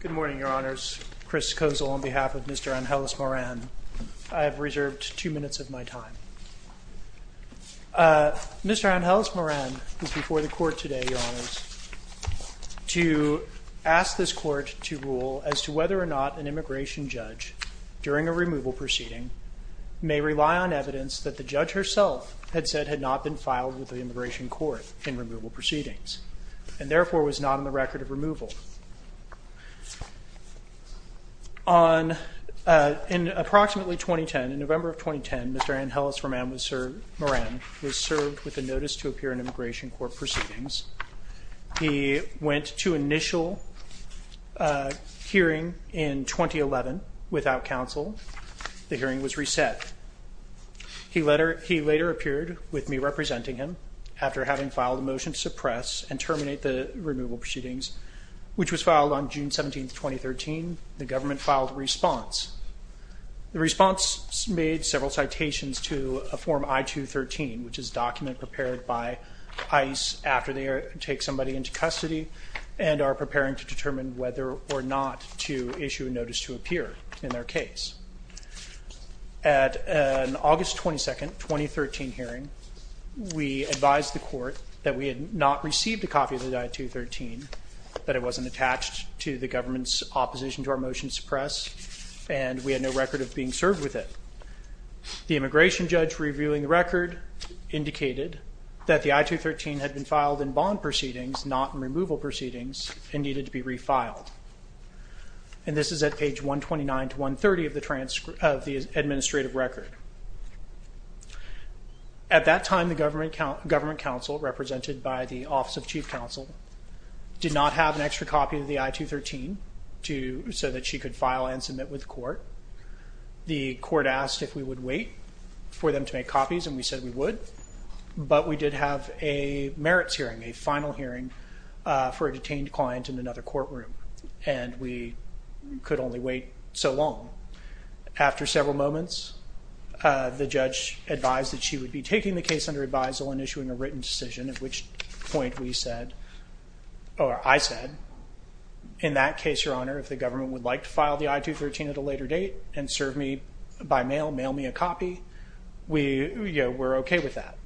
Good morning, Your Honors. Chris Kozol on behalf of Mr. Angeles-Moran. I have reserved two minutes of my time. Mr. Angeles-Moran is before the Court today, Your Honors, to ask this Court to rule as to whether or not an immigration judge during a removal proceeding may rely on evidence that the judge herself had said had not been filed with the immigration court in removal proceedings, and therefore was not on the record of removal. In November of 2010, Mr. Angeles-Moran was served with a notice to appear in immigration court proceedings. He went to initial hearing in 2011 without counsel. The hearing was reset. He later appeared with me representing him. After having filed a motion to suppress and terminate the removal proceedings, which was filed on June 17, 2013, the government filed a response. The response made several citations to a Form I-213, which is a document prepared by ICE after they take somebody into custody and are preparing to determine whether or not to issue a notice to appear in their case. At an August 22, 2013 hearing, we advised the Court that we had not received a copy of the I-213, that it wasn't attached to the government's opposition to our motion to suppress, and we had no record of being served with it. The immigration judge reviewing the record indicated that the I-213 had been filed in bond proceedings, not in removal proceedings, and needed to be refiled. And this is at page 129 to 130 of the administrative record. At that time, the government counsel, represented by the Office of Chief Counsel, did not have an extra copy of the I-213 so that she could file and submit with the Court. The Court asked if we would wait for them to make copies, and we said we would. But we did have a merits hearing, a final hearing, for a detained client in another courtroom, and we could only wait so long. After several moments, the judge advised that she would be taking the case under advisal and issuing a written decision, at which point we said, or I said, in that case, Your Honor, if the government would like to file the I-213 at a later date and serve me by mail, mail me a copy, we're okay with that.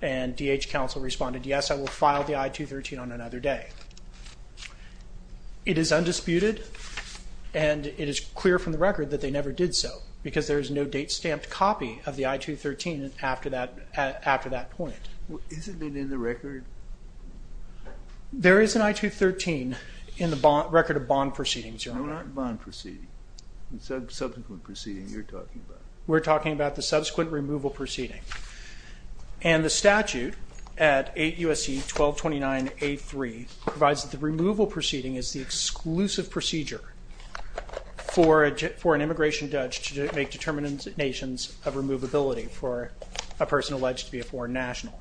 And D.H. Counsel responded, yes, I will file the I-213 on another day. It is undisputed, and it is clear from the record that they never did so, because there is no date-stamped copy of the I-213 after that point. Isn't it in the record? There is an I-213 in the record of bond proceedings, Your Honor. What aren't bond proceedings? The subsequent proceeding you're talking about. We're talking about the subsequent removal proceeding. And the statute at 8 U.S.C. 1229A.3 provides that the removal proceeding is the exclusive procedure for an immigration judge to make determinations of removability for a person alleged to be a foreign national.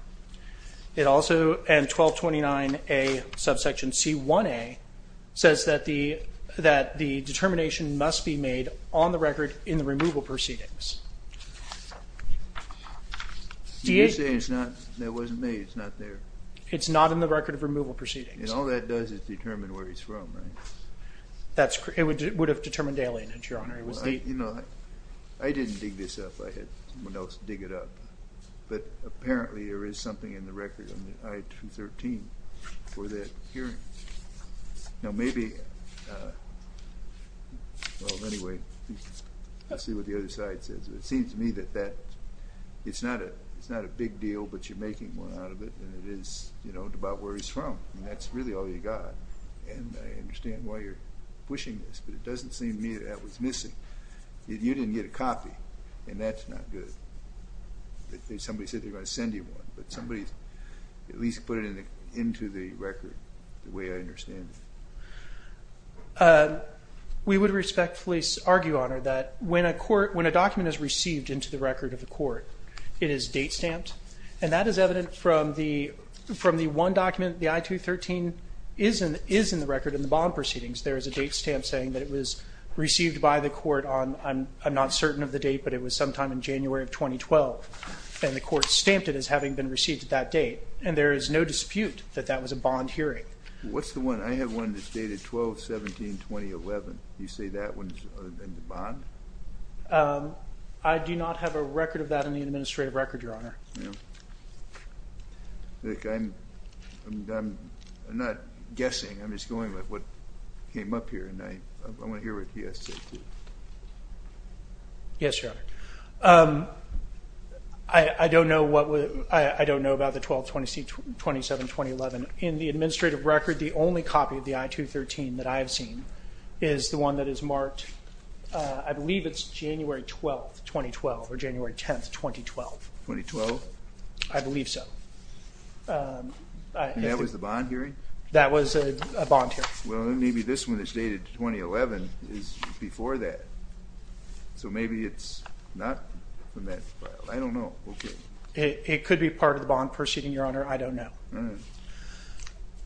It also, and 1229A subsection C1A, says that the determination must be made on the record in the removal proceedings. You're saying it's not, that it wasn't made, it's not there. It's not in the record of removal proceedings. And all that does is determine where he's from, right? You know, I didn't dig this up. I had someone else dig it up. But apparently there is something in the record on the I-213 for that hearing. Now maybe, well, anyway, let's see what the other side says. It seems to me that that, it's not a big deal, but you're making more out of it than it is, you know, about where he's from. And that's really all you got. And I understand why you're pushing this, but it doesn't seem to me that that was missing. You didn't get a copy, and that's not good. Somebody said they were going to send you one, but somebody at least put it into the record the way I understand it. We would respectfully argue, Honor, that when a court, when a document is received into the record of the court, it is date stamped. And that is evident from the one document, the I-213 is in the record in the bond proceedings. There is a date stamp saying that it was received by the court on, I'm not certain of the date, but it was sometime in January of 2012. And the court stamped it as having been received at that date. And there is no dispute that that was a bond hearing. What's the one? I have one that's dated 12-17-2011. You say that one's in the bond? I do not have a record of that in the administrative record, Your Honor. I'm not guessing. I'm just going with what came up here, and I want to hear what he has to say, too. Yes, Your Honor. I don't know about the 12-17-2011. In the administrative record, the only copy of the I-213 that I have seen is the one that is marked, I believe it's January 12, 2012, or January 10, 2012. 2012? I believe so. And that was the bond hearing? That was a bond hearing. Well, then maybe this one that's dated 2011 is before that. So maybe it's not from that file. I don't know. Okay. It could be part of the bond proceeding, Your Honor. I don't know.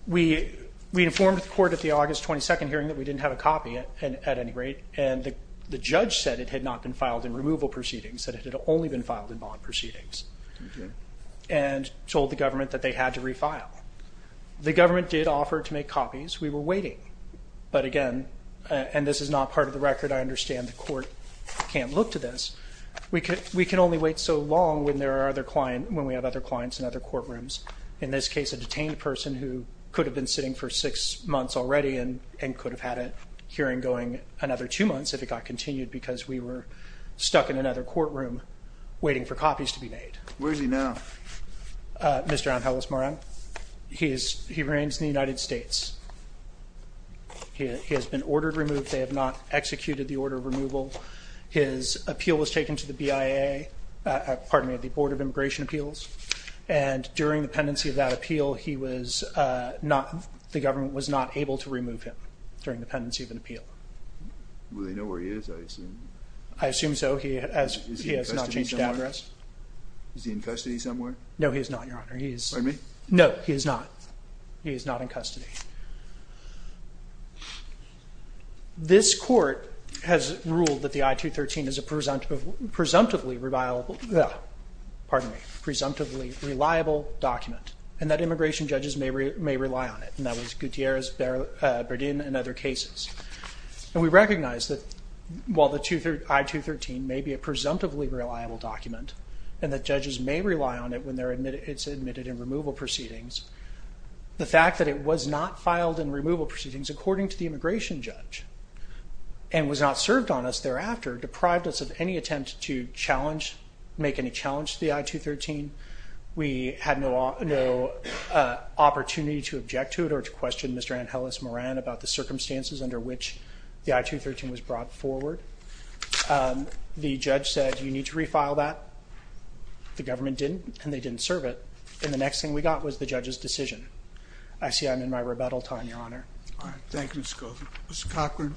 We informed the court at the August 22 hearing that we didn't have a copy at any rate, and the judge said it had not been filed in removal proceedings, that it had only been filed in bond proceedings, and told the government that they had to refile. The government did offer to make copies. We were waiting, but again, and this is not part of the record. I understand the court can't look to this. We can only wait so long when we have other clients in other courtrooms. In this case, a detained person who could have been sitting for six months already and could have had a hearing going another two months if it got continued because we were stuck in another courtroom waiting for copies to be made. Where is he now? Mr. Angelos Moran. He remains in the United States. He has been ordered removed. They have not executed the order of removal. His appeal was taken to the BIA, pardon me, the Board of Immigration Appeals, and during the pendency of that appeal, the government was not able to remove him during the pendency of an appeal. Do they know where he is? I assume so. He has not changed his address. Is he in custody somewhere? No, he is not, Your Honor. Pardon me? No, he is not. He is not in custody. This court has ruled that the I-213 is a presumptively reliable document and that immigration judges may rely on it, and that was Gutierrez, Berdin, and other cases. And we recognize that while the I-213 may be a presumptively reliable document and that judges may rely on it when it's admitted in removal proceedings, the fact that it was not filed in removal proceedings, according to the immigration judge, and was not served on us thereafter deprived us of any attempt to challenge, make any challenge to the I-213. We had no opportunity to object to it or to question Mr. Angeles Moran about the circumstances under which the I-213 was brought forward. The judge said, you need to refile that. The government didn't, and they didn't serve it. And the next thing we got was the judge's decision. I see I'm in my rebuttal time, Your Honor. All right. Thank you, Mr. Cochran.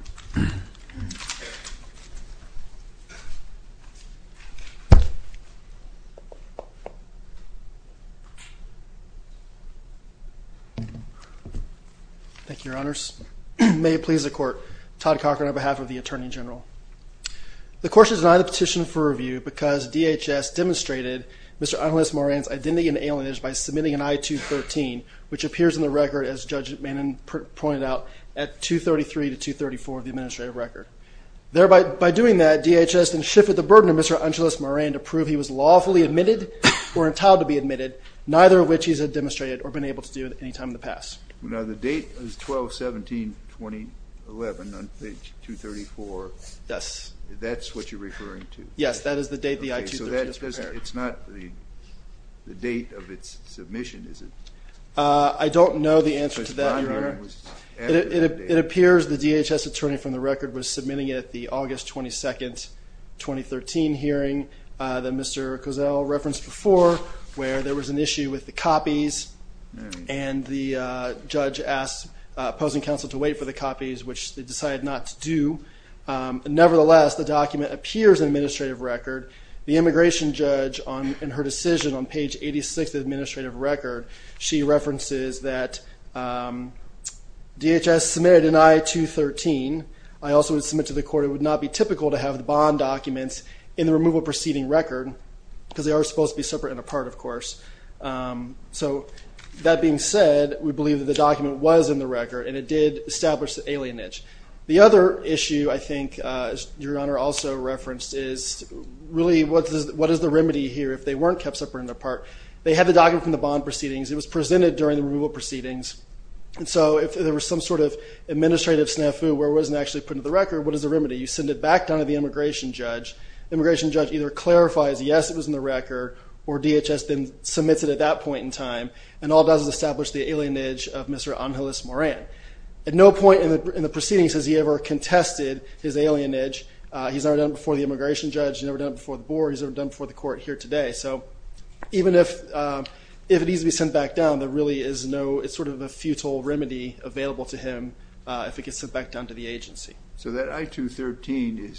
Thank you, Your Honors. May it please the Court, Todd Cochran on behalf of the Attorney General. The Court should deny the petition for review because DHS demonstrated Mr. Angeles Moran's identity and alienage by submitting an I-213, which appears in the record, as Judge Manning pointed out, at 233 to 234 of the administrative record. Thereby, by doing that, DHS then shifted the burden of Mr. Angeles Moran to prove he was lawfully admitted or entitled to be admitted, neither of which he has demonstrated or been able to do at any time in the past. Now, the date is 12-17-2011 on page 234. Yes. That's what you're referring to. Yes. That is the date the I-213 was prepared. Okay. So it's not the date of its submission, is it? I don't know the answer to that, Your Honor. It appears the DHS attorney from the record was submitting it at the August 22nd, 2013 hearing that Mr. Cozell referenced before, where there was an issue with the copies, and the judge asked opposing counsel to wait for the copies, which they decided not to do. Nevertheless, the document appears in the administrative record. The immigration judge, in her decision on page 86 of the administrative record, she references that DHS submitted an I-213. I also would submit to the court it would not be typical to have the bond documents in the removal proceeding record, because they are supposed to be separate and apart, of course. So that being said, we believe that the document was in the record, and it did establish the alienage. The other issue I think Your Honor also referenced is, really, what is the remedy here if they weren't kept separate and apart? They had the document from the bond proceedings. It was presented during the removal proceedings. And so if there was some sort of administrative snafu where it wasn't actually put into the record, what is the remedy? You send it back down to the immigration judge. The immigration judge either clarifies, yes, it was in the record, or DHS then submits it at that point in time, and all it does is establish the alienage of Mr. Angelis Moran. At no point in the proceedings has he ever contested his alienage. He's never done it before the immigration judge. He's never done it before the board. He's never done it before the court here today. So even if it needs to be sent back down, there really is no sort of a futile remedy available to him if it gets sent back down to the agency. So that I-213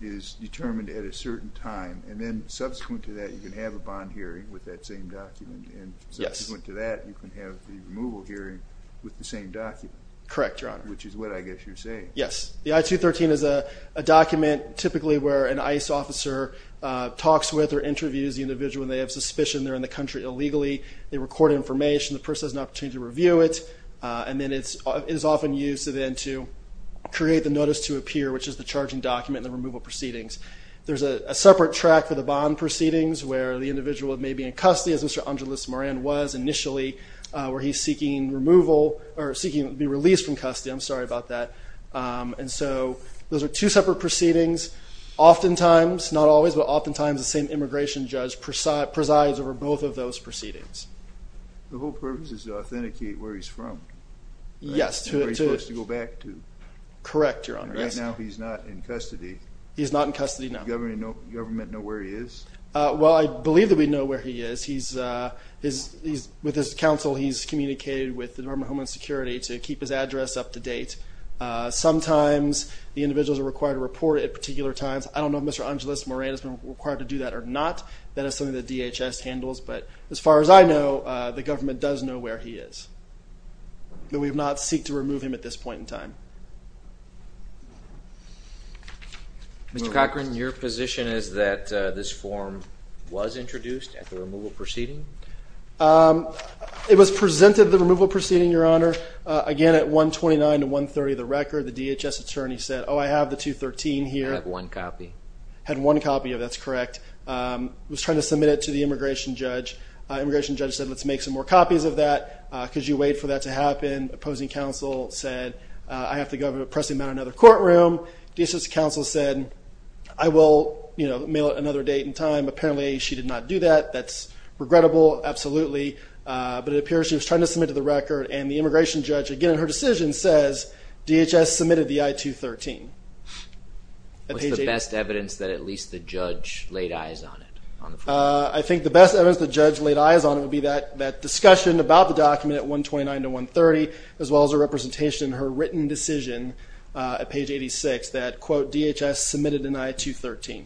is determined at a certain time, and then subsequent to that you can have a bond hearing with that same document, and subsequent to that you can have the removal hearing with the same document. Correct, Your Honor. Which is what I guess you're saying. Yes. The I-213 is a document typically where an ICE officer talks with or interviews the individual and they have suspicion they're in the country illegally. They record information. The person has an opportunity to review it, and then it is often used then to create the notice to appear, which is the charging document in the removal proceedings. There's a separate track for the bond proceedings where the individual may be in custody, as Mr. Angeles Moran was initially, where he's seeking removal or seeking to be released from custody. I'm sorry about that. And so those are two separate proceedings. Oftentimes, not always, but oftentimes the same immigration judge presides over both of those proceedings. The whole purpose is to authenticate where he's from, right? Yes. And where he's supposed to go back to. Correct, Your Honor. Right now he's not in custody. He's not in custody, no. Does the government know where he is? Well, I believe that we know where he is. With his counsel, he's communicated with the Department of Homeland Security to keep his address up to date. Sometimes the individuals are required to report at particular times. I don't know if Mr. Angeles Moran has been required to do that or not. That is something that DHS handles. But as far as I know, the government does know where he is. Mr. Cochran, your position is that this form was introduced at the removal proceeding? It was presented at the removal proceeding, Your Honor. Again, at 129 to 130 of the record, the DHS attorney said, oh, I have the 213 here. It had one copy. It had one copy of it, that's correct. It was trying to submit it to the immigration judge. The immigration judge said, let's make some more copies of that because you wait for that to happen. Opposing counsel said, I have to go press him out of another courtroom. DHS counsel said, I will mail it another date and time. Apparently, she did not do that. That's regrettable, absolutely. But it appears she was trying to submit to the record, and the immigration judge, again, in her decision says, DHS submitted the I-213. What's the best evidence that at least the judge laid eyes on it? I think the best evidence the judge laid eyes on it would be that discussion about the document at 129 to 130, as well as a representation in her written decision at page 86 that, quote, DHS submitted an I-213.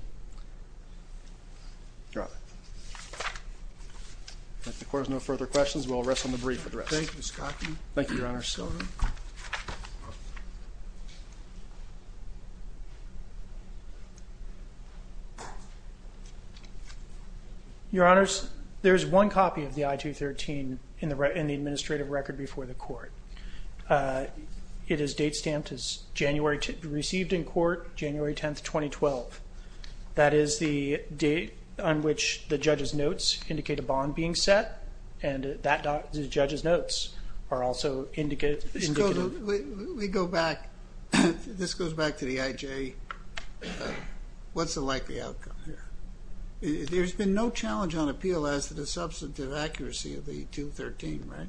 If there are no further questions, we'll rest on the brief for the rest. Thank you, Mr. Cockney. Thank you, Your Honors. Judge Sullivan. Your Honors, there is one copy of the I-213 in the administrative record before the court. It is date stamped as January received in court, January 10, 2012. That is the date on which the judge's notes indicate a bond being set, and the judge's notes are also indicative. We go back. This goes back to the IJ. What's the likely outcome here? There's been no challenge on appeal as to the substantive accuracy of the I-213, right?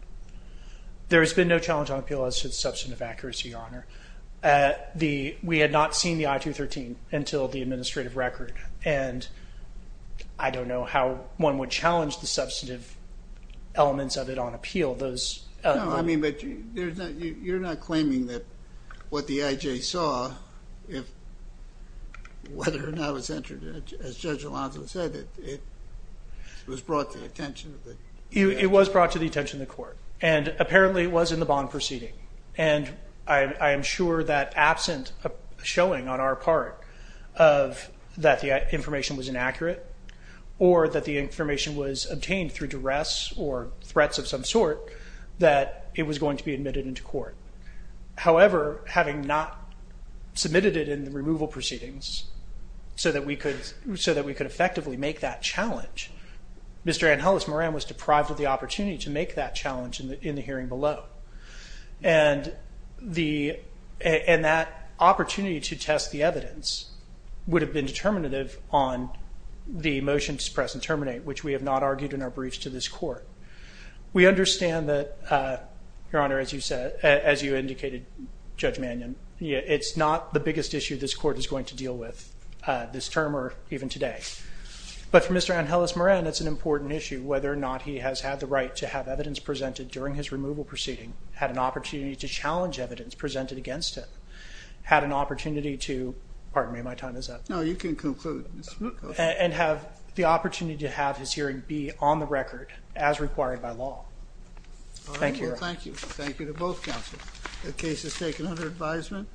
There has been no challenge on appeal as to the substantive accuracy, Your Honor. We had not seen the I-213 until the administrative record, and I don't know how one would challenge the substantive elements of it on appeal. You're not claiming that what the IJ saw, whether or not it was entered, as Judge Alonzo said, it was brought to the attention of the court. It was brought to the attention of the court, and apparently it was in the bond proceeding. I am sure that absent a showing on our part that the information was inaccurate or that the information was obtained through duress or threats of some sort, that it was going to be admitted into court. However, having not submitted it in the removal proceedings so that we could effectively make that challenge, Mr. Ann Hullis Moran was deprived of the opportunity to make that challenge in the hearing below. And that opportunity to test the evidence would have been determinative on the motion to suppress and terminate, which we have not argued in our briefs to this court. We understand that, Your Honor, as you indicated, Judge Mannion, it's not the biggest issue this court is going to deal with this term or even today. But for Mr. Ann Hullis Moran, it's an important issue whether or not he has had the right to have evidence presented during his removal proceeding, had an opportunity to challenge evidence presented against him, had an opportunity to – pardon me, my time is up. No, you can conclude. And have the opportunity to have his hearing be on the record as required by law. Thank you, Your Honor. Thank you. Thank you to both counsels. The case is taken under advisement.